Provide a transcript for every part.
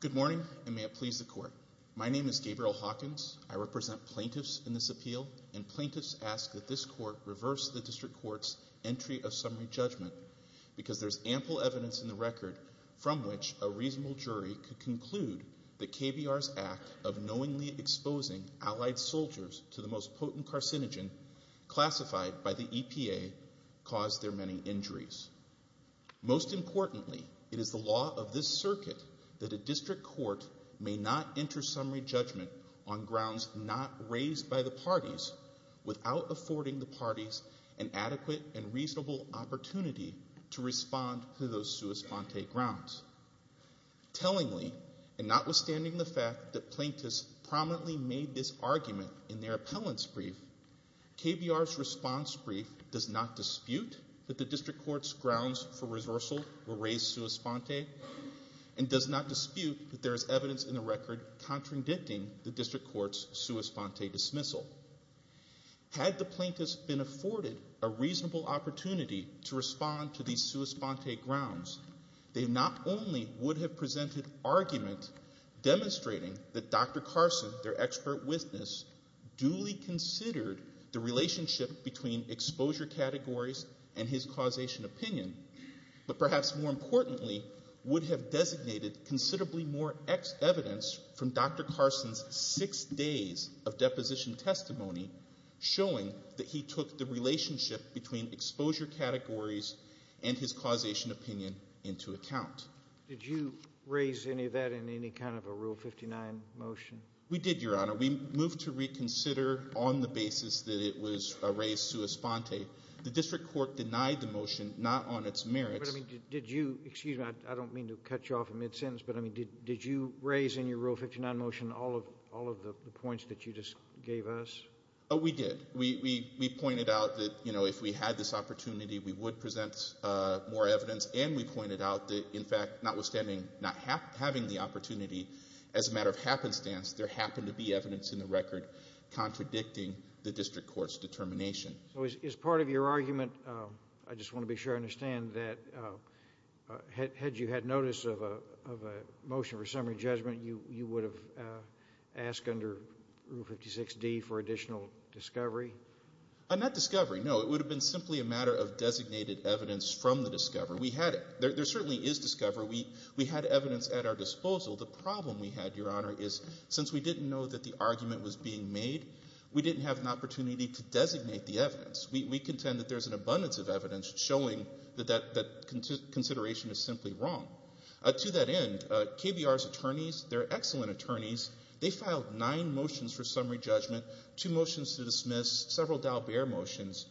Good morning, and may it please the Court. My name is Gabriel Hawkins. I represent plaintiffs in this appeal, and plaintiffs ask that this Court reverse the District Court's entry of summary judgment, because there is ample evidence in the record from which a reasonable jury could conclude that KBR's act of knowingly exposing Allied soldiers to the most potent it is the law of this circuit that a District Court may not enter summary judgment on grounds not raised by the parties without affording the parties an adequate and reasonable opportunity to respond to those sua sponte grounds. Tellingly, and notwithstanding the fact that plaintiffs prominently made this argument in their appellant's brief, KBR's response brief does not dispute that the District Court's grounds for reversal were raised sua sponte, and does not dispute that there is evidence in the record contradicting the District Court's sua sponte dismissal. Had the plaintiffs been afforded a reasonable opportunity to respond to these sua sponte grounds, they not only would have presented argument demonstrating that Dr. Carson, their and his causation opinion, but perhaps more importantly, would have designated considerably more evidence from Dr. Carson's six days of deposition testimony showing that he took the relationship between exposure categories and his causation opinion into account. Did you raise any of that in any kind of a Rule 59 motion? We did, Your Honor. We moved to reconsider on the basis that it was raised sua sponte. The District Court denied the motion, not on its merits. Did you, excuse me, I don't mean to cut you off in mid-sentence, but did you raise in your Rule 59 motion all of the points that you just gave us? We did. We pointed out that if we had this opportunity, we would present more evidence and we pointed out that, in fact, notwithstanding not having the opportunity, as a matter of happenstance, there happened to be evidence in the record contradicting the District Court's determination. So is part of your argument, I just want to be sure I understand, that had you had notice of a motion for summary judgment, you would have asked under Rule 56D for additional discovery? Not discovery, no. It would have been simply a matter of designated evidence from the discovery. We had it. There certainly is discovery. We had evidence at our disposal. The problem we had, Your Honor, is since we didn't know that the argument was being made, we didn't have an opportunity to designate the evidence. We contend that there's an abundance of evidence showing that that consideration is simply wrong. To that end, KBR's attorneys, they're excellent attorneys, they filed nine motions for summary judgment, two motions to dismiss, several Dalbert motions.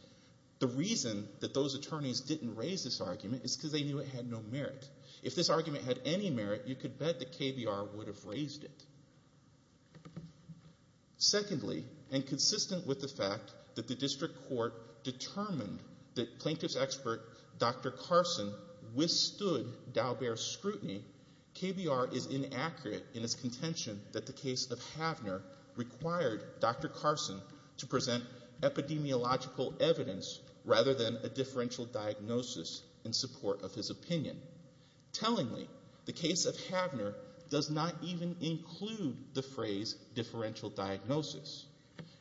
The reason that those attorneys didn't raise this argument is because they knew it had no merit. If this argument had any merit, you could bet that KBR would have raised it. Secondly, and consistent with the fact that the district court determined that plaintiff's expert, Dr. Carson, withstood Dalbert's scrutiny, KBR is inaccurate in its contention that the case of Havner required Dr. Carson to present epidemiological evidence rather than a differential diagnosis in support of his opinion. Tellingly, the case of Havner does not even include the phrase, differential diagnosis.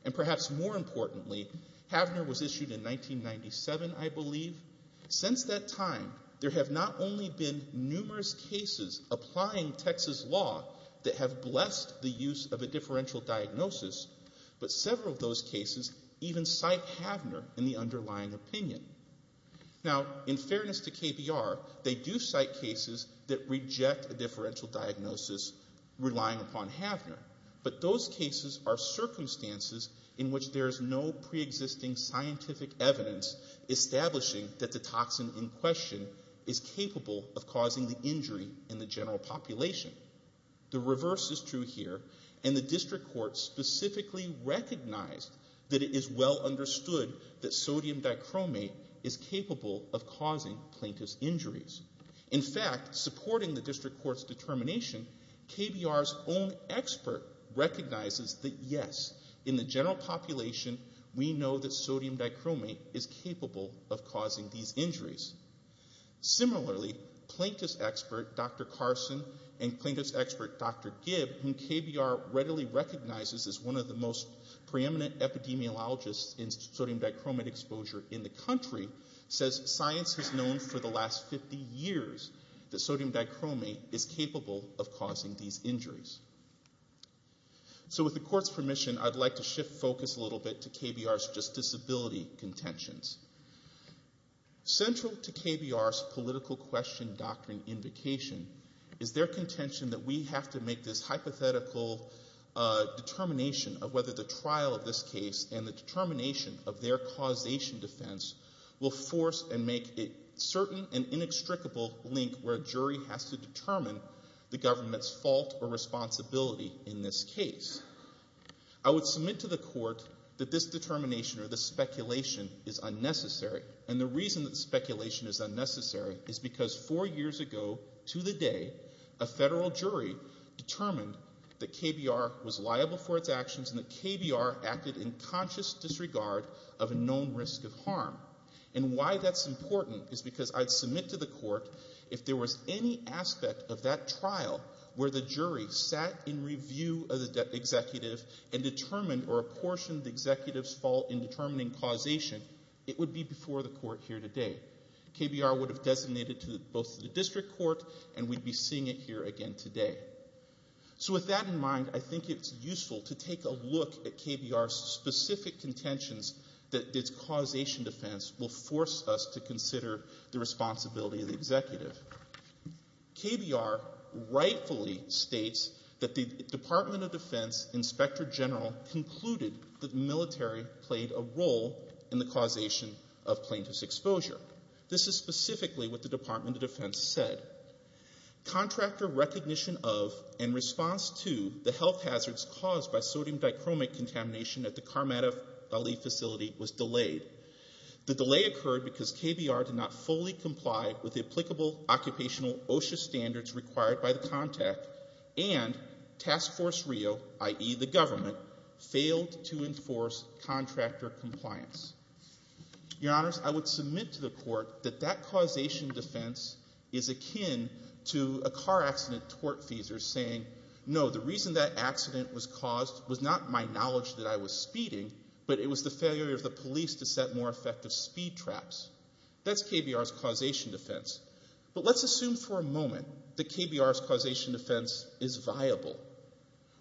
And perhaps more importantly, Havner was issued in 1997, I believe. Since that time, there have not only been numerous cases applying Texas law that have blessed the use of a differential diagnosis, but several of those cases even cite Havner in the underlying opinion. Now, in fairness to KBR, they do cite cases that reject a differential diagnosis relying upon Havner, but those cases are circumstances in which there is no preexisting scientific evidence establishing that the toxin in question is capable of causing the injury in the general population. The reverse is true here, and the district court specifically recognized that it is well understood that sodium dichromate is capable of causing plaintiff's injuries. In fact, supporting the district court's determination, KBR's own expert recognizes that yes, in the general population, we know that sodium dichromate is capable of causing these injuries. Similarly, plaintiff's expert Dr. Carson and plaintiff's expert Dr. Gibb, whom KBR readily recognizes as one of the most preeminent epidemiologists in sodium dichromate exposure in the country, says science has known for the last 50 years that sodium dichromate is capable of causing these injuries. So with the court's permission, I'd like to shift focus a little bit to KBR's just disability contentions. Central to KBR's political question doctrine invocation is their contention that we have to make this hypothetical determination of whether the trial of this case and the jury will force and make a certain and inextricable link where a jury has to determine the government's fault or responsibility in this case. I would submit to the court that this determination or this speculation is unnecessary, and the reason that speculation is unnecessary is because four years ago to the day, a federal jury determined that KBR was liable for its fault. And why that's important is because I'd submit to the court if there was any aspect of that trial where the jury sat in review of the executive and determined or apportioned the executive's fault in determining causation, it would be before the court here today. KBR would have designated to both the district court and we'd be seeing it here again today. So with that in mind, I think it's useful to take a look at KBR's specific contentions that its causation defense will force us to consider the responsibility of the executive. KBR rightfully states that the Department of Defense Inspector General concluded that the military played a role in the causation of plaintiff's exposure. This is specifically what the Department of Defense said. Contractor recognition of and response to the health crisis was delayed. The delay occurred because KBR did not fully comply with the applicable occupational OSHA standards required by the contact, and Task Force Rio, i.e., the government, failed to enforce contractor compliance. Your Honors, I would submit to the court that that causation defense is akin to a car accident tort feasor saying, no, the reason that accident was caused was not my knowledge that I was speeding, but it was the failure of the police to set more effective speed traps. That's KBR's causation defense. But let's assume for a moment that KBR's causation defense is viable.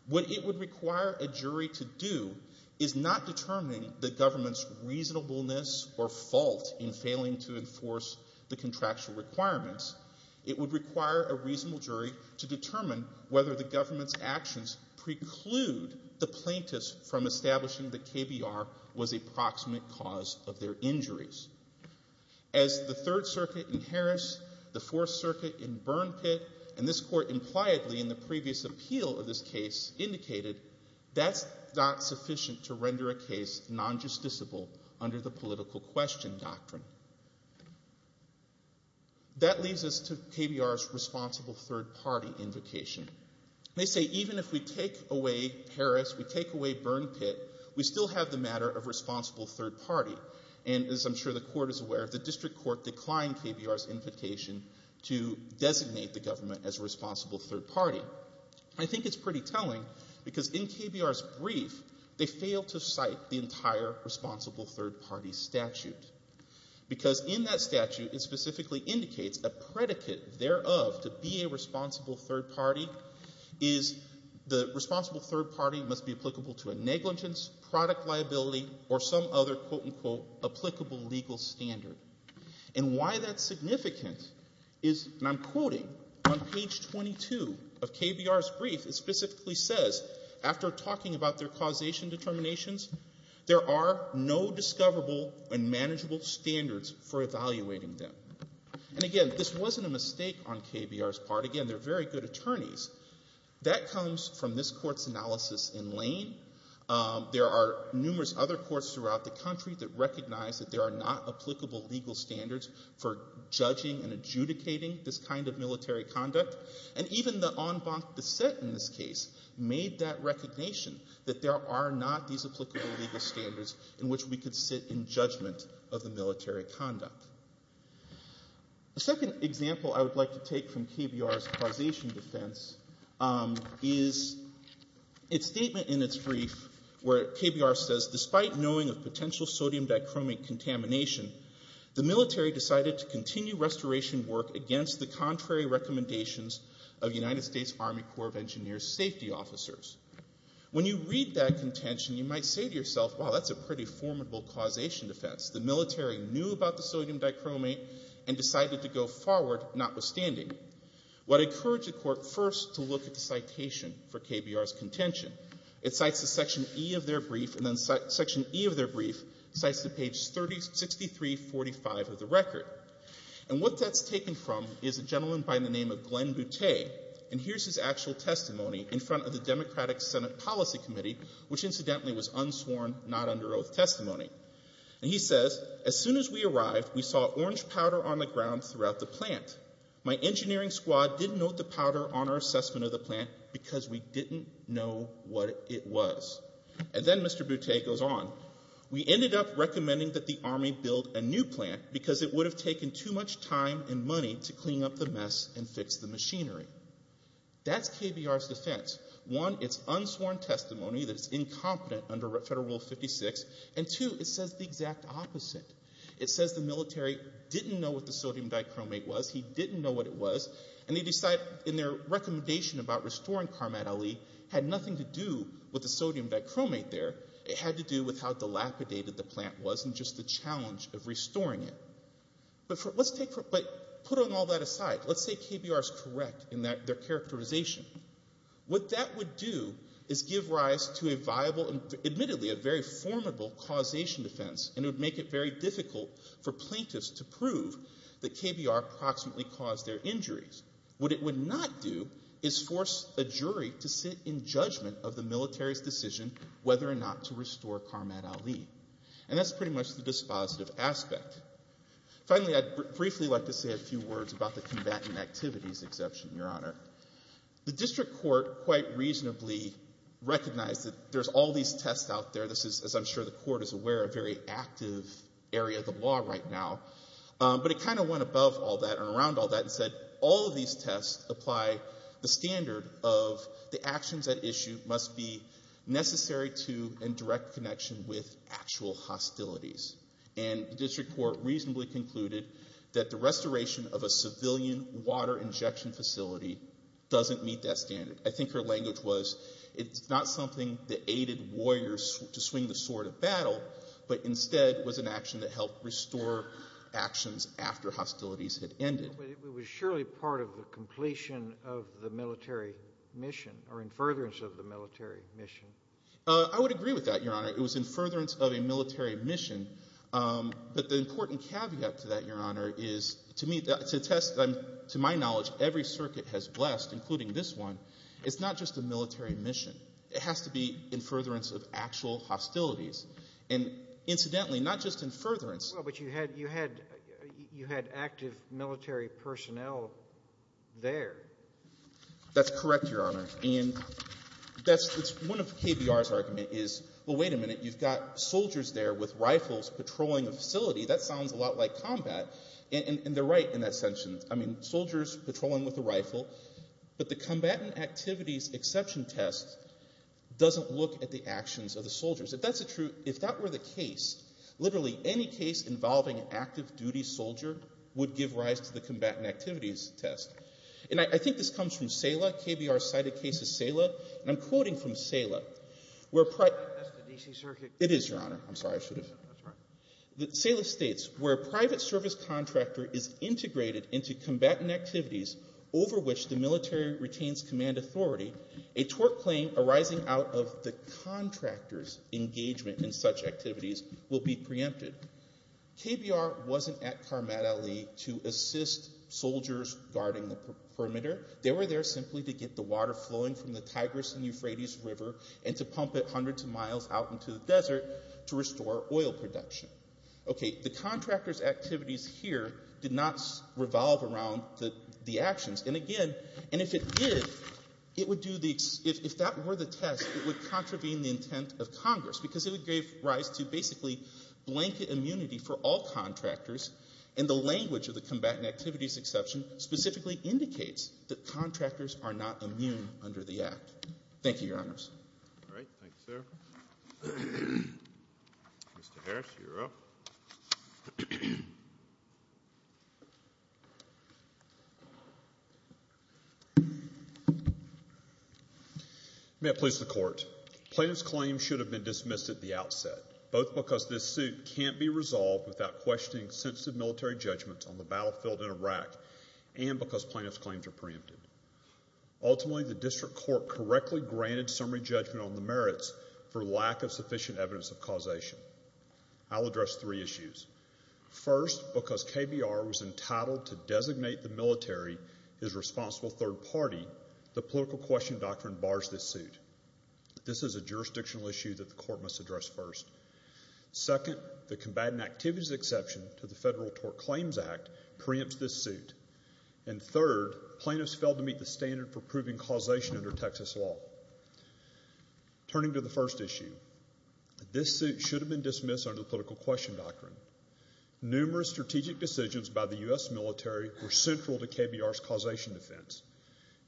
What it would require a jury to do is not determining the government's reasonableness or fault in failing to enforce the contractual requirements. It would require a reasonable jury to determine whether the government's decision to exclude the plaintiffs from establishing that KBR was a proximate cause of their injuries. As the Third Circuit in Harris, the Fourth Circuit in Burn Pit, and this court impliedly in the previous appeal of this case indicated, that's not sufficient to render a case non-justiciable under the political question doctrine. That leads us to KBR's responsible third party invocation. They say even if we take away Harris, we take away Burn Pit, we still have the matter of responsible third party. And as I'm sure the court is aware, the district court declined KBR's invocation to designate the government as responsible third party. I think it's pretty telling, because in KBR's brief, they failed to cite the entire responsible third party statute. Because in that statute, it specifically indicates a predicate thereof to be a responsible third party is the responsible third party must be applicable to a negligence, product liability, or some other quote unquote applicable legal standard. And why that's significant is, and I'm quoting on page 22 of KBR's brief, it specifically says, after talking about their causation determinations, there are no discoverable and manageable standards for evaluating them. And again, this wasn't a mistake on KBR's part. Again, they're very good attorneys. That comes from this court's analysis in Lane. There are numerous other courts throughout the country that recognize that there are not applicable legal standards for judging and adjudicating this kind of military conduct. And even the en banc de set in this case made that recognition, that there are not these applicable legal standards in which we could sit in judgment of the military conduct. The second example I would like to take from KBR's causation defense is its statement in its brief, where KBR says, despite knowing of potential sodium dichromate contamination, the military decided to continue restoration work against the contrary recommendations of United States Army Corps of Engineers safety officers. When you read that contention, you might say to yourself, wow, that's a pretty formidable causation defense. The military knew about the sodium dichromate and decided to go forward, notwithstanding. What encouraged the court first to look at the citation for KBR's contention. It cites the section E of their brief, and then section E of their brief cites the page 6345 of the record. And what that's taken from is a gentleman by the name of Glenn Butte. And here's his actual testimony in front of the Democratic Senate Policy Committee, which incidentally was unsworn, not under oath testimony. And he says, as soon as we arrived, we saw orange powder on the ground throughout the plant. My engineering squad didn't note the powder on our assessment of the plant because we didn't know what it was. And then Mr. Butte goes on. We ended up recommending that the Army build a new plant because it would have taken too much time and money to One, it's unsworn testimony that's incompetent under Federal Rule 56. And two, it says the exact opposite. It says the military didn't know what the sodium dichromate was. He didn't know what it was. And they decide in their recommendation about restoring Karmat Ali had nothing to do with the sodium dichromate there. It had to do with how dilapidated the plant was and just the challenge of restoring it. But put all that aside, let's say KBR is correct in their characterization. What that would do is give rise to a viable, admittedly a very formidable causation defense, and it would make it very difficult for plaintiffs to prove that KBR approximately caused their injuries. What it would not do is force a jury to sit in judgment of the military's decision whether or not to restore Karmat Ali. And that's pretty much the dispositive aspect. Finally, I'd briefly like to say a few words about the patent activities exception, Your Honor. The district court quite reasonably recognized that there's all these tests out there. This is, as I'm sure the court is aware, a very active area of the law right now. But it kind of went above all that and around all that and said all of these tests apply the standard of the actions at issue must be necessary to and direct connection with actual hostilities. And the district court reasonably concluded that the restoration of a civilian water injection facility doesn't meet that standard. I think her language was it's not something that aided warriors to swing the sword of battle, but instead was an action that helped restore actions after hostilities had ended. But it was surely part of the completion of the military mission or in furtherance of the military mission. I would agree with that, Your Honor. It was in furtherance of a military mission. But the important caveat to that, Your Honor, is to me to attest to my knowledge every circuit has blessed, including this one, it's not just a military mission. It has to be in furtherance of actual hostilities. And incidentally, not just in furtherance Well, but you had you had you had active military personnel there. That's correct, Your Honor. And that's one of KBR's argument is, well, wait a minute, you've got soldiers there with rifles patrolling a facility. That sounds a lot like combat. And they're right in that sense. I mean, soldiers patrolling with a rifle. But the combatant activities exception test doesn't look at the actions of the soldiers. If that's true, if that were the case, literally any case involving an active duty soldier would give rise to the combatant activities test. And I think this comes from SALA. KBR cited cases SALA. And I'm quoting from SALA, where That's the D.C. Circuit. It is, Your Honor. I'm sorry, I should have. SALA states, where a private service contractor is integrated into combatant activities over which the military retains command authority, a tort claim arising out of the contractor's engagement in such activities will be preempted. KBR wasn't at Karmat-Ali to assist soldiers guarding the perimeter. They were there simply to get the water flowing from the Tigris and water to miles out into the desert to restore oil production. Okay. The contractor's activities here did not revolve around the actions. And again, and if it did, it would do the if that were the test, it would contravene the intent of Congress, because it would give rise to basically blanket immunity for all contractors. And the language of the combatant activities exception specifically indicates that contractors are not immune under the Act. Thank you, Your Honors. All right. Thank you, sir. Mr. Harris, you're up. May it please the Court. Plaintiff's claims should have been dismissed at the outset, both because this suit can't be resolved without questioning sensitive military judgments on the battlefield in Iraq and because plaintiff's claims are preempted. Ultimately, the District Court correctly granted summary judgment on the merits for lack of sufficient evidence of causation. I'll address three issues. First, because KBR was entitled to designate the military as responsible third party, the political question doctrine bars this suit. This is a jurisdictional issue that the Court must address first. Second, the combatant activities exception to the Federal Tort Claims Act preempts this suit. And third, plaintiffs failed to meet the standard for proving causation under Texas law. Turning to the first issue, this suit should have been dismissed under the political question doctrine. Numerous strategic decisions by the U.S. military were central to KBR's causation defense.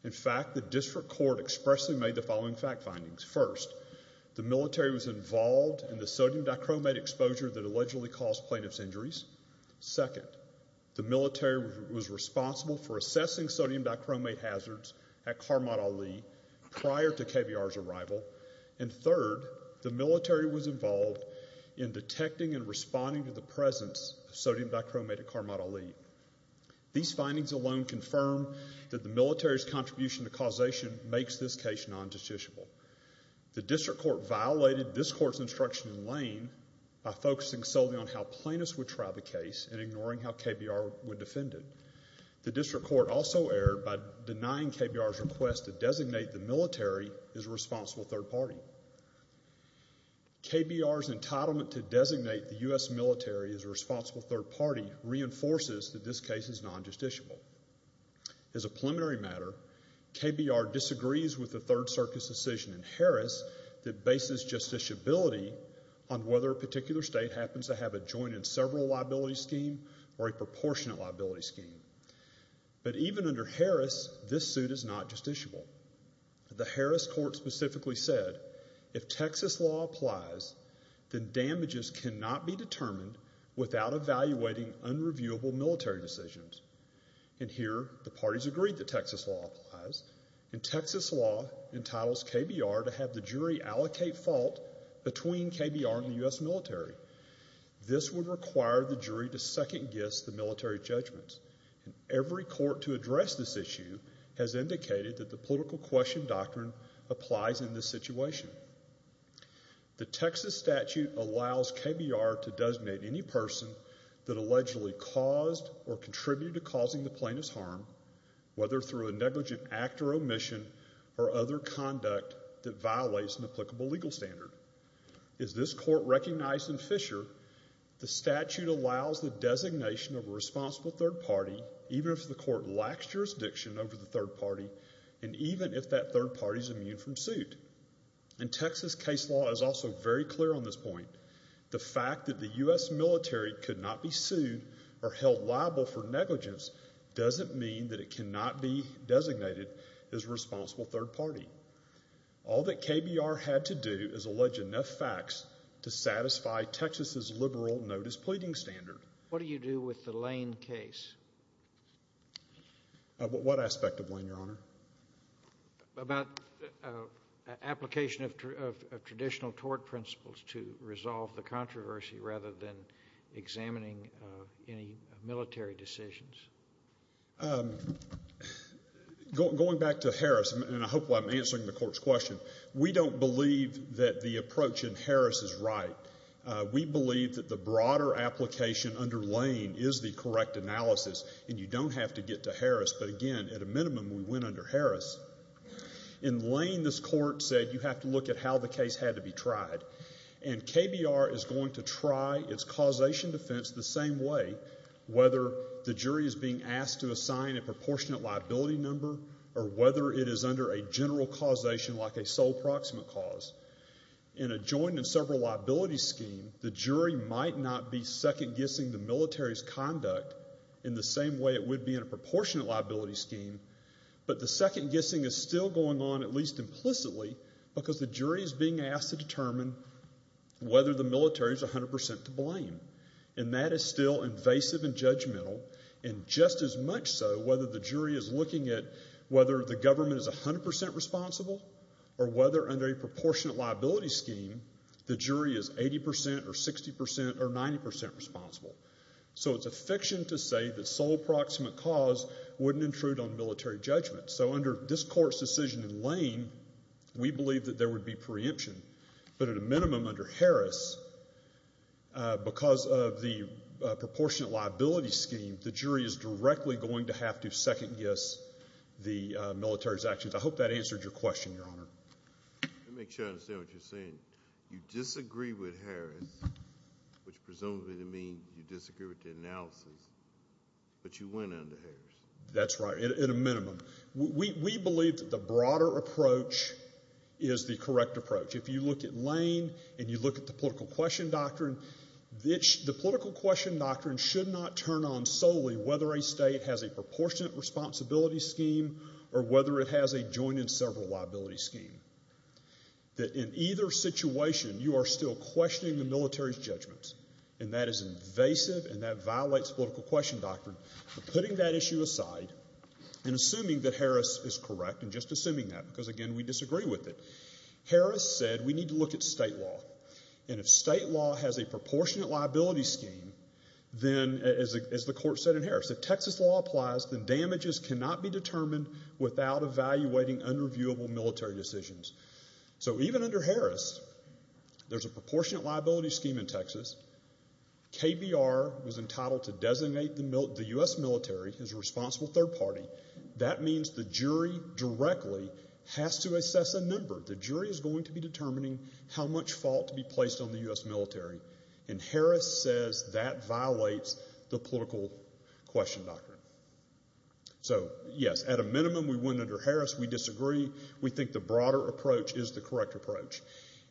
In fact, the District Court expressly made the following fact findings. First, the military was involved in the sodium dichromate exposure that allegedly caused plaintiff's injuries. Second, the military was responsible for assessing sodium dichromate hazards at Karmat-Ali prior to KBR's arrival. And third, the military was involved in detecting and responding to the presence of sodium dichromate at Karmat-Ali. These findings alone confirm that the military's contribution to causation makes this case non-judiciable. The District Court violated this Court's instruction in Lane by focusing solely on how plaintiffs would try the case and ignoring how KBR would defend it. The District Court also erred by denying KBR's request to designate the military as a responsible third party. KBR's entitlement to designate the U.S. military as a responsible third party reinforces that this case is non-judiciable. As a preliminary matter, KBR disagrees with the Third Circus decision in Harris that bases justiciability on whether a particular state happens to have a joint and several liability scheme or a proportionate liability scheme. But even under Harris, this suit is not justiciable. The Harris Court specifically said, if Texas law applies, then damages cannot be determined without evaluating unreviewable military decisions. And here, the parties agreed that Texas law applies, and Texas law entitles KBR to have the jury allocate fault between KBR and the U.S. military. This would require the jury to second-guess the military judgments. Every court to address this issue has indicated that the political question doctrine applies in this situation. The Texas statute allows KBR to designate any person that allegedly caused or contributed to causing the plaintiff's harm, whether through a negligent act or omission or other conduct that violates an applicable legal standard. As this court recognized in Fisher, the statute allows the designation of a responsible third party even if the court lacks jurisdiction over the third party and even if that third party is immune from suit. And Texas case law is also very clear on this point. The fact that the U.S. military could not be sued or held liable for negligence doesn't mean that it cannot be designated as a responsible third party. All that KBR had to do is allege enough facts to satisfy Texas's liberal notice pleading standard. What do you do with the Lane case? What aspect of Lane, Your Honor? About application of traditional tort principles to resolve the controversy rather than examining any military decisions. Going back to Harris, and I hope I'm answering the court's question, we don't believe that the approach in Harris is right. We believe that the broader application under Lane is the correct analysis and you don't have to get to Harris. But again, at a minimum, we went under Harris. In Lane, this court said you have to look at how the case had to be tried. And KBR is going to try its causation defense the same way, whether the jury is being asked to assign a proportionate liability number or whether it is under a general causation like a sole proximate cause. In a joint and several liability scheme, the jury might not be second-guessing the military's conduct in the same way it would be in a proportionate liability scheme, but the second-guessing is still going on, at least implicitly, because the jury is being asked to determine whether the military is 100% to blame. And that is still invasive and judgmental, and just as yet, whether the government is 100% responsible or whether under a proportionate liability scheme, the jury is 80% or 60% or 90% responsible. So it's a fiction to say that sole proximate cause wouldn't intrude on military judgment. So under this court's decision in Lane, we believe that there would be preemption. But at a minimum, under Harris, because of the military's actions, I hope that answered your question, Your Honor. Let me make sure I understand what you're saying. You disagree with Harris, which presumably would mean you disagree with the analysis, but you went under Harris. That's right, at a minimum. We believe that the broader approach is the correct approach. If you look at Lane and you look at the political question doctrine, the political question doctrine should not turn on solely whether a state has a proportionate responsibility scheme or whether it has a joint and several liability scheme. That in either situation, you are still questioning the military's judgments, and that is invasive and that violates political question doctrine. But putting that issue aside and assuming that Harris is correct and just assuming that, because again, we disagree with it, Harris said we need to look at state law. And if state law has a proportionate liability scheme, then, as the court said in Harris, if Texas law applies, then damages cannot be determined without evaluating unreviewable military decisions. So even under Harris, there's a proportionate liability scheme in Texas. KBR was entitled to designate the U.S. military as a responsible third party. That means the jury directly has to assess a number. The jury is going to be determining how much fault to be placed on the U.S. military. And Harris says that violates the political question doctrine. So, yes, at a minimum, we went under Harris. We disagree. We think the broader approach is the correct approach.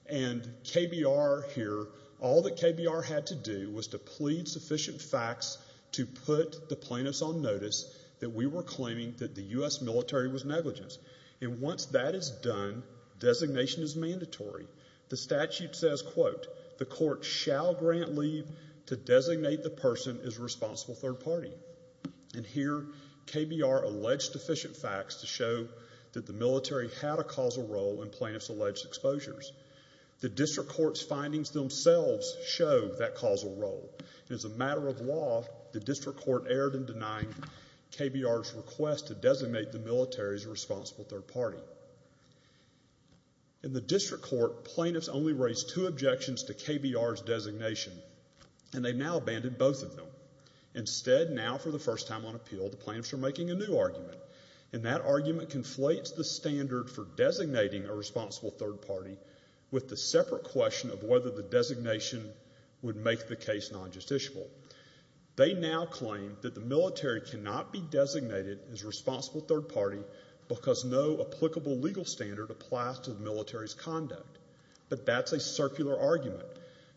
And KBR here, all that KBR had to do was to plead sufficient facts to put the plaintiffs on notice that we were claiming that the U.S. military was negligent. And once that is done, designation is mandatory. The statute says, quote, the court shall grant leave to designate the person as responsible third party. And here, KBR alleged sufficient facts to show that the military had a causal role in plaintiffs' As a matter of law, the district court erred in denying KBR's request to designate the military as a responsible third party. In the district court, plaintiffs only raised two objections to KBR's designation. And they now abandoned both of them. Instead, now for the first time on appeal, the plaintiffs are making a new argument. And that argument conflates the standard for designating a responsible third party with the separate question of whether the designation would make the case non-justiciable. They now claim that the military cannot be designated as responsible third party because no applicable legal standard applies to the military's conduct. But that's a circular argument.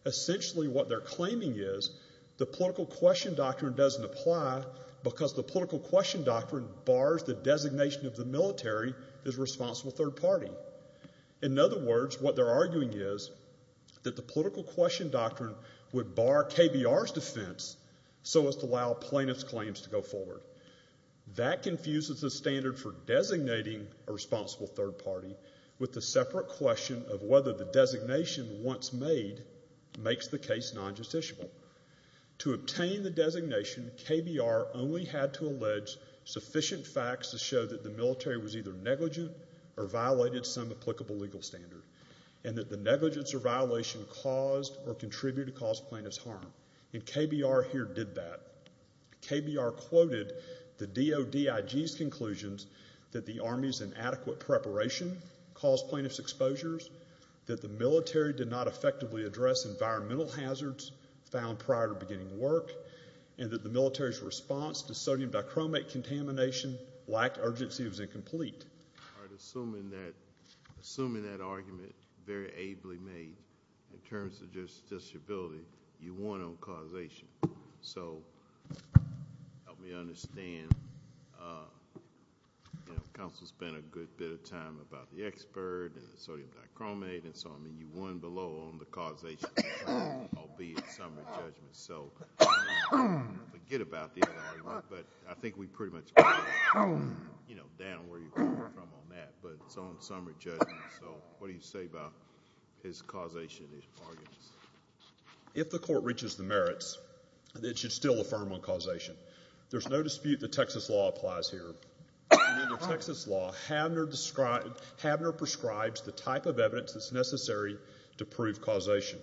Essentially, what they're claiming is the political question doctrine doesn't apply because the political question doctrine bars the designation of the military as responsible third party. In other words, what they're arguing is that the political question doctrine would bar KBR's defense so as to allow plaintiffs' claims to go forward. That confuses the standard for designating a responsible third party with the separate question of whether the designation once made makes the case non-justiciable. To obtain the designation, KBR only had to allege sufficient facts to show that the military was either negligent or violated some applicable legal standard, and that the negligence or violation caused or contributed to cause plaintiffs' harm. And KBR here did that. KBR quoted the DODIG's conclusions that the Army's inadequate preparation caused plaintiffs' exposures, that the military did not effectively address environmental hazards found prior to beginning work, and that the military's response to what he'd say about his causation arguments. If the court reaches the merits, it should still affirm on causation. There's no dispute the Texas law applies here. In the Texas law, Habner prescribes the type of evidence that's necessary to prove causation.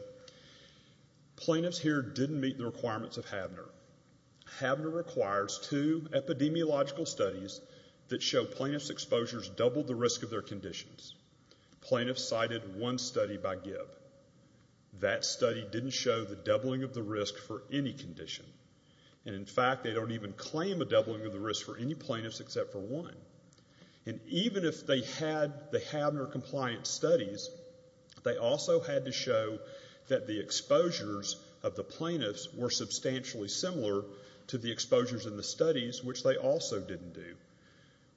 Plaintiffs here didn't meet the requirements of Habner. Habner requires two epidemiological studies that show plaintiffs' exposures doubled the risk of their conditions. Plaintiffs cited one study by Gibb. That study didn't show the doubling of the risk for any condition. And in fact, they don't even claim a doubling of the risk for any plaintiffs except for one. And even if they had the Habner-compliant studies, they also had to show that the exposures of the plaintiffs were substantially similar to the exposures in the studies, which they also didn't do.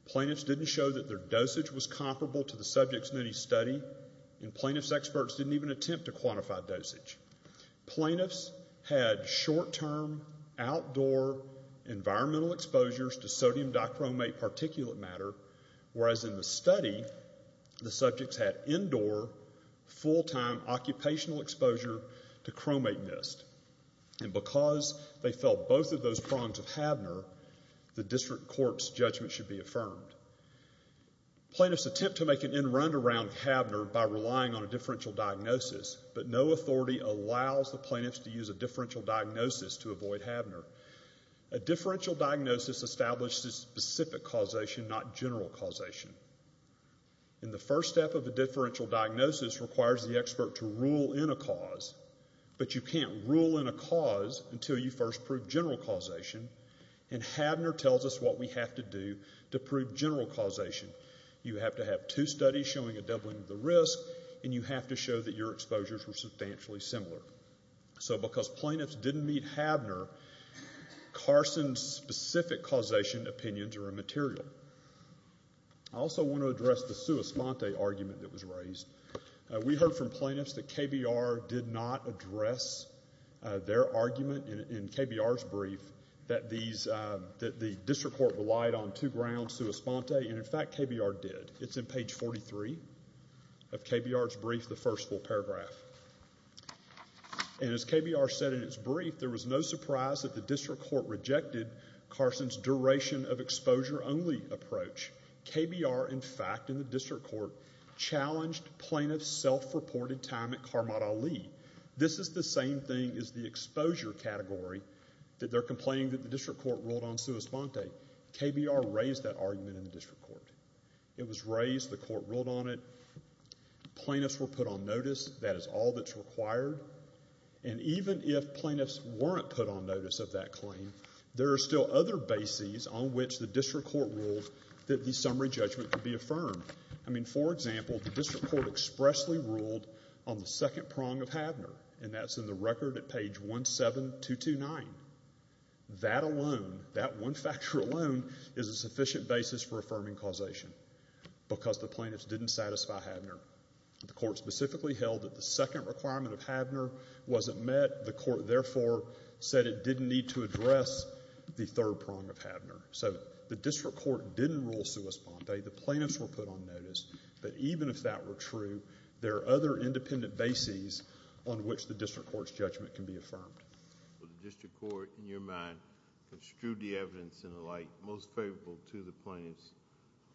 Plaintiffs didn't show that their dosage was comparable to the subjects in any study, and plaintiffs' experts didn't even attempt to quantify dosage. Plaintiffs had short-term outdoor environmental exposures to sodium dichromate particulate matter, whereas in the study, the subjects had indoor full-time occupational exposure to chromate mist. And because they felt both of those prongs of Habner, the district court's judgment should be affirmed. Plaintiffs attempt to make an end-run around Habner by relying on a differential diagnosis, but no authority allows the plaintiffs to use a differential diagnosis to avoid Habner. A differential diagnosis establishes specific causation, not general causation. And the first step of a differential diagnosis requires the expert to rule in a cause, but you can't rule in a cause until you first prove general causation, and Habner tells us what we have to do to prove general causation. You have to have two studies showing a doubling of the risk, and you have to show that your exposures were substantially similar. So because plaintiffs didn't meet Habner, Carson's specific causation opinions are immaterial. I also want to address the sua sponte argument that was raised. We heard from plaintiffs that KBR did not address their argument in KBR's brief that the district court relied on two grounds, sua sponte, and in fact KBR did. It's in page 43 of KBR's brief, the first full paragraph. And as KBR said in its brief, there was no surprise that the district court rejected Carson's duration of exposure only approach. KBR, in fact, in the district court challenged plaintiffs' self-reported time at Karmat Ali. This is the same thing as the exposure category that they're complaining that the district court ruled on sua sponte. KBR raised that argument in the district court. It was raised. The court ruled on it. Plaintiffs were put on notice. That is all that's required. And even if plaintiffs weren't put on notice of that claim, there are still other bases on which the district court ruled that the summary judgment could be affirmed. I mean, for example, the district court expressly ruled on the second prong of Havner, and that's in the record at page 17229. That alone, that one factor alone is a sufficient basis for affirming causation because the plaintiffs didn't satisfy Havner. The court specifically held that the second requirement of Havner wasn't met. The court, therefore, said it didn't need to address the third prong of Havner. So the district court didn't rule sua sponte. The plaintiffs were put on notice. But even if that were true, there are other independent bases on which the district court's judgment can be affirmed. Well, the district court, in your mind, construed the evidence in a light most favorable to the plaintiffs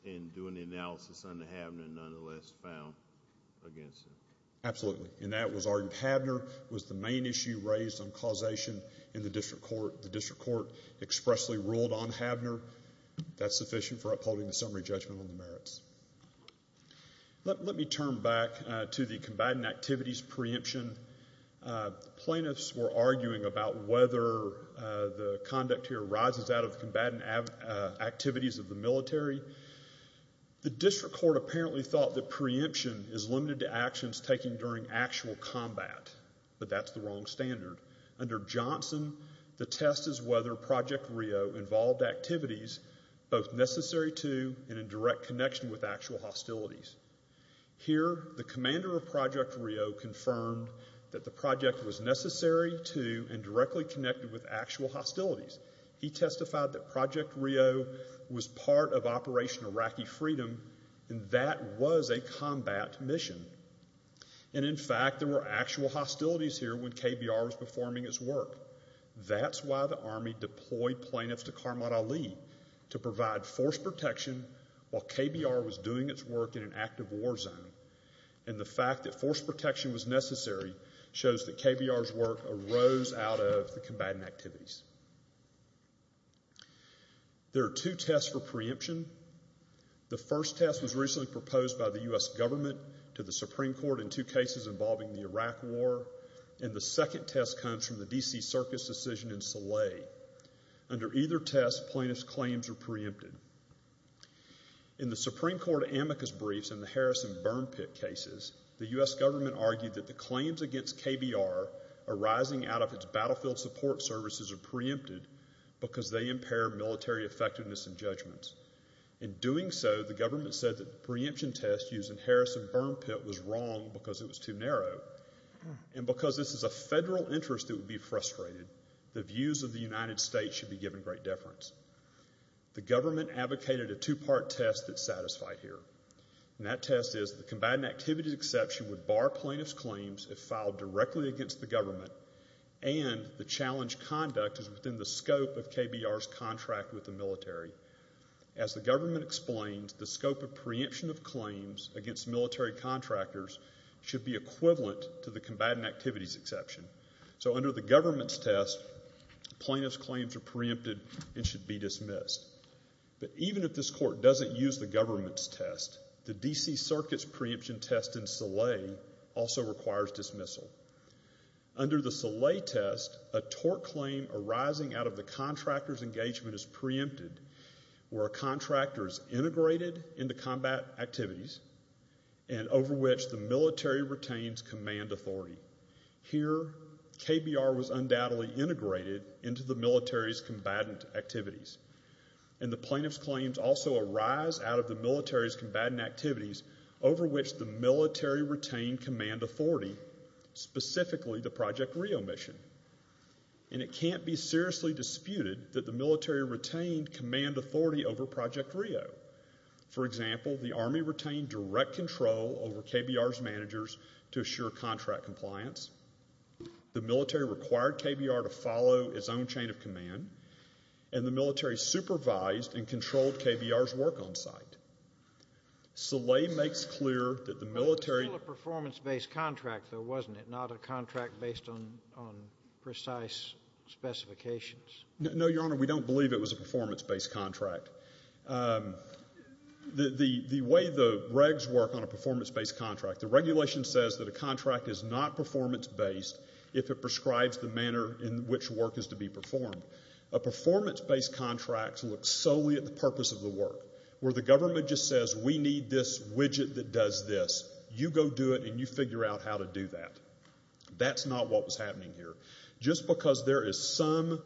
in doing the analysis on the Havner nonetheless found against them? Absolutely. And that was argument. Havner was the main issue raised on causation in the district court. The district court expressly ruled on Havner. That's sufficient for upholding the summary judgment on the merits. Let me turn back to the combatant activities preemption. The plaintiffs were arguing about whether the conduct here rises out of the combatant activities of the military. The district court apparently thought that preemption is limited to actions taken during actual combat. But that's the wrong standard. Under Johnson, the test is whether Project RIO involved activities both necessary to and in direct connection with actual hostilities. Here, the commander of Project RIO confirmed that the project was necessary to and directly connected with actual hostilities. He testified that Project RIO was part of Operation Iraqi Freedom, and that was a combat mission. And, in fact, there were actual hostilities here when KBR was performing its work. That's why the Army deployed plaintiffs to Karmad Ali to provide force protection while KBR was doing its work in an active war zone. And the fact that force protection was necessary shows that KBR's work arose out of the combatant activities. There are two tests for preemption. The first test was recently proposed by the U.S. government to the Supreme Court in two cases involving the Iraq War, and the second test comes from the D.C. Circus decision in Salih. Under either test, plaintiffs' claims are preempted. In the Supreme Court amicus briefs in the Harris and Burn Pit cases, the U.S. government argued that the claims against KBR arising out of its battlefield support services are preempted because they impair military effectiveness and judgments. In doing so, the government said that the preemption test used in Harris and Burn Pit was wrong because it was too narrow. And because this is a federal interest that would be frustrated, the views of the United States should be given great deference. The government advocated a two-part test that's directly against the government, and the challenge conduct is within the scope of KBR's contract with the military. As the government explains, the scope of preemption of claims against military contractors should be equivalent to the combatant activities exception. So under the government's test, plaintiffs' claims are preempted and should be dismissed. But even if this court doesn't use the government's test, the D.C. Circus preemption test in Salih also requires dismissal. Under the Salih test, a tort claim arising out of the contractor's engagement is preempted where a contractor is integrated into combat activities and over which the military retains command authority. Here, KBR was undoubtedly integrated into the military's combatant activities. And the plaintiff's claims also arise out of the military's command authority, specifically the Project Rio mission. And it can't be seriously disputed that the military retained command authority over Project Rio. For example, the Army retained direct control over KBR's managers to assure contract compliance. The military required KBR to follow its own chain of command. And the military supervised and controlled KBR's work on site. Salih makes clear that the military... It was still a performance-based contract, though, wasn't it? Not a contract based on precise specifications? No, Your Honor, we don't believe it was a performance-based contract. The way the regs work on a performance-based contract, the regulation says that a contract is not performance-based if it prescribes the manner in which work is to be performed. A performance-based contract looks solely at the purpose of the work, where the government just says, we need this widget that does this. You go do it, and you figure out how to do that. That's not what was happening here. Just because there is some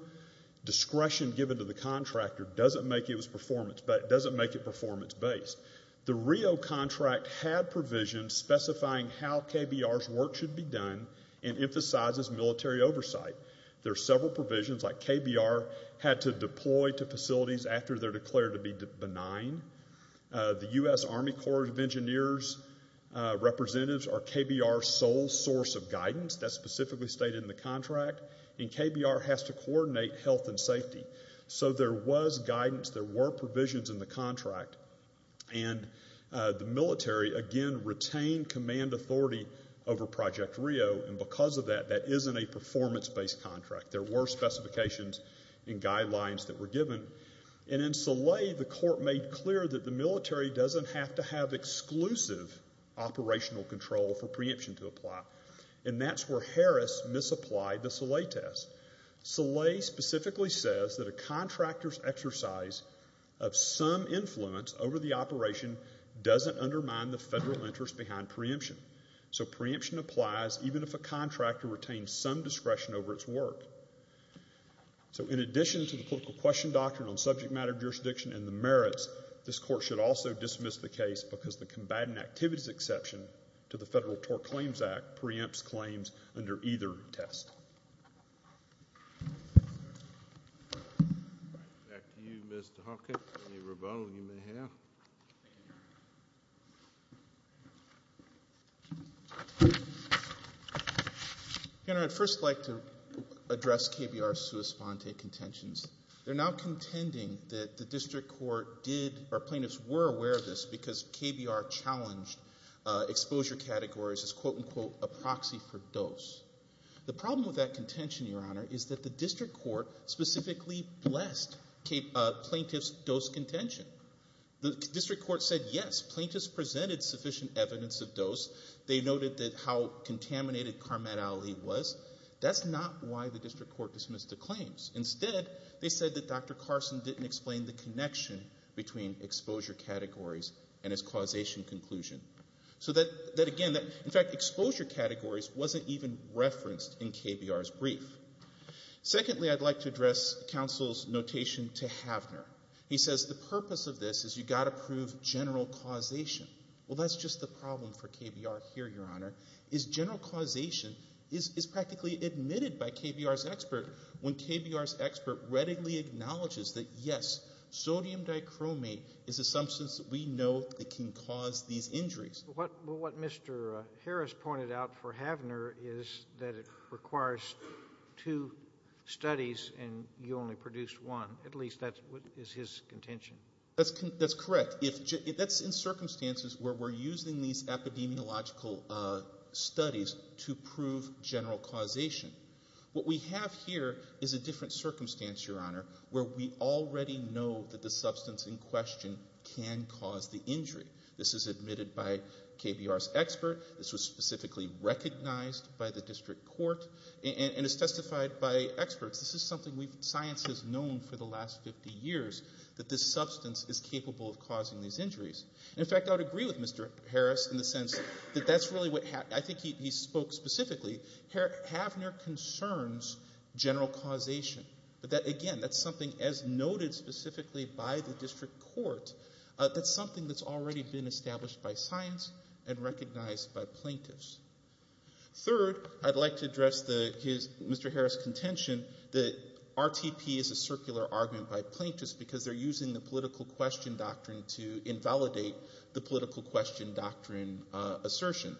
discretion given to the contractor doesn't make it performance-based. The Rio contract had provisions specifying how KBR's work should be done and emphasizes military oversight. There are several provisions like KBR had to deploy to facilities after they're declared to be benign. The U.S. Army Corps of Engineers representatives are KBR's sole source of guidance. That's specifically stated in the contract. And KBR has to coordinate health and safety. So there was guidance. There were provisions in the contract. And the military, again, retained command authority over Project Rio. And because of that, that isn't a performance-based contract. There were specifications and guidelines that were given. And in Saleh, the court made clear that the military doesn't have to have exclusive operational control for preemption to apply. And that's where Harris misapplied the Saleh test. Saleh specifically says that a contractor's exercise of some influence over the operation doesn't undermine the federal interest behind preemption. So preemption applies even if a contractor retains some discretion over its work. So in addition to the political question doctrine on subject matter jurisdiction and the merits, this court should also dismiss the case because the combatant activities exception to the Federal Tort Claims Act preempts the case. Your Honor, I'd first like to address KBR's sua sponte contentions. They're now contending that the district court did or plaintiffs were aware of this because KBR challenged exposure categories as quote unquote a proxy for dose. The problem with that contention, Your Honor, is that the district court specifically blessed plaintiff's dose contention. The district court said, yes, plaintiffs presented sufficient evidence of dose. They noted that how contaminated Karmat Ali was. That's not why the district court dismissed the claims. Instead, they said that Dr. Carson didn't explain the connection between exposure categories and his causation conclusion. So that again, in fact, exposure categories wasn't even referenced in KBR's brief. Secondly, I'd like to address counsel's notation to Havner. He says the purpose of this is you've got to prove general causation. Well, that's just the problem for KBR here, Your Honor, is general causation is practically admitted by KBR's expert when KBR's expert readily acknowledges that, yes, sodium dichromate is a substance that we know that can cause these injuries. What Mr. Harris pointed out for Havner is that it requires two studies and you only produced one. At least that is his contention. That's correct. That's in circumstances where we're using these epidemiological studies to prove general causation. What we have here is a different circumstance, Your Honor, where we already know that the substance in question can cause the injury. This is admitted by KBR's expert. This was specifically recognized by the district court and is testified by experts. This is something science has known for the last 50 years, that this substance is capable of causing these injuries. In fact, I would agree with Mr. Harris in the sense that that's really what I think he spoke specifically. Havner concerns general causation, but that again, that's something as noted specifically by the district court. That's something that's already been established by science and recognized by plaintiffs. Third, I'd like to address Mr. Harris' contention that RTP is a circular argument by plaintiffs because they're using the political question doctrine to invalidate the political question doctrine assertion.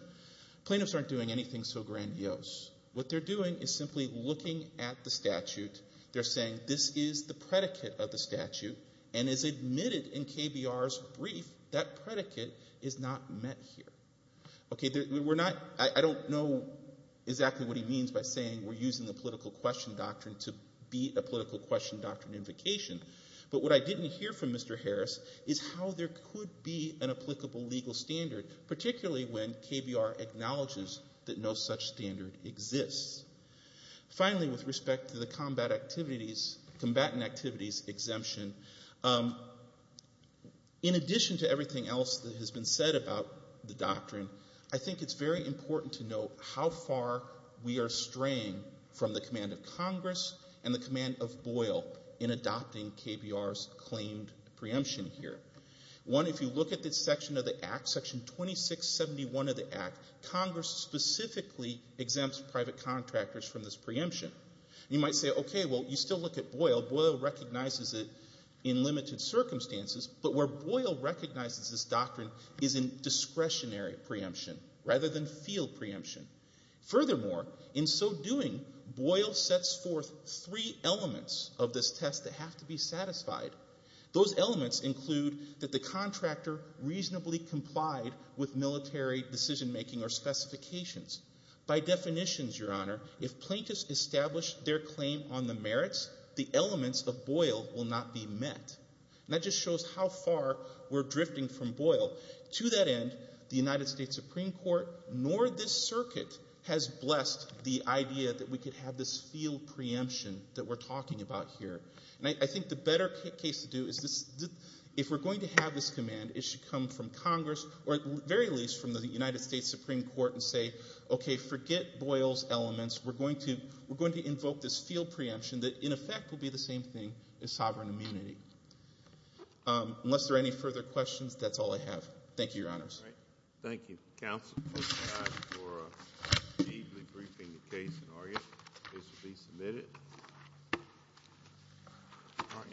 Plaintiffs aren't doing anything so grandiose. What they're doing is simply looking at the statute. They're saying this is the predicate of the statute and as admitted in KBR's brief, that predicate is not met here. Okay, we're not, I don't know exactly what he means by saying we're using the political question doctrine to beat a political question doctrine invocation, but what I didn't hear from Mr. Harris is how there could be an applicable legal standard, particularly when KBR acknowledges that no such standard exists. Finally, with respect to the combatant activities exemption, in addition to everything else that has been said about the doctrine, I think it's very important to note how far we are straying from the command of Congress and the command of Boyle in adopting KBR's claimed preemption here. One, if you look at this section of the act, section 2671 of the act, Congress specifically exempts private contractors from this preemption. You might say, okay, well, you still look at Boyle. Boyle recognizes it in limited circumstances, but where Boyle recognizes this doctrine is in discretionary preemption rather than field preemption. Furthermore, in so doing, Boyle sets forth three elements of this test that reasonably complied with military decision-making or specifications. By definitions, Your Honor, if plaintiffs establish their claim on the merits, the elements of Boyle will not be met. That just shows how far we're drifting from Boyle. To that end, the United States Supreme Court nor this circuit has blessed the idea that we could have this field preemption that we're talking about here. I think the better case to do is if we're going to have this command, it should come from Congress or at the very least from the United States Supreme Court and say, okay, forget Boyle's elements. We're going to invoke this field preemption that in effect will be the same thing as sovereign immunity. Unless there are any further questions, that's all I have. Thank you, Your Honor.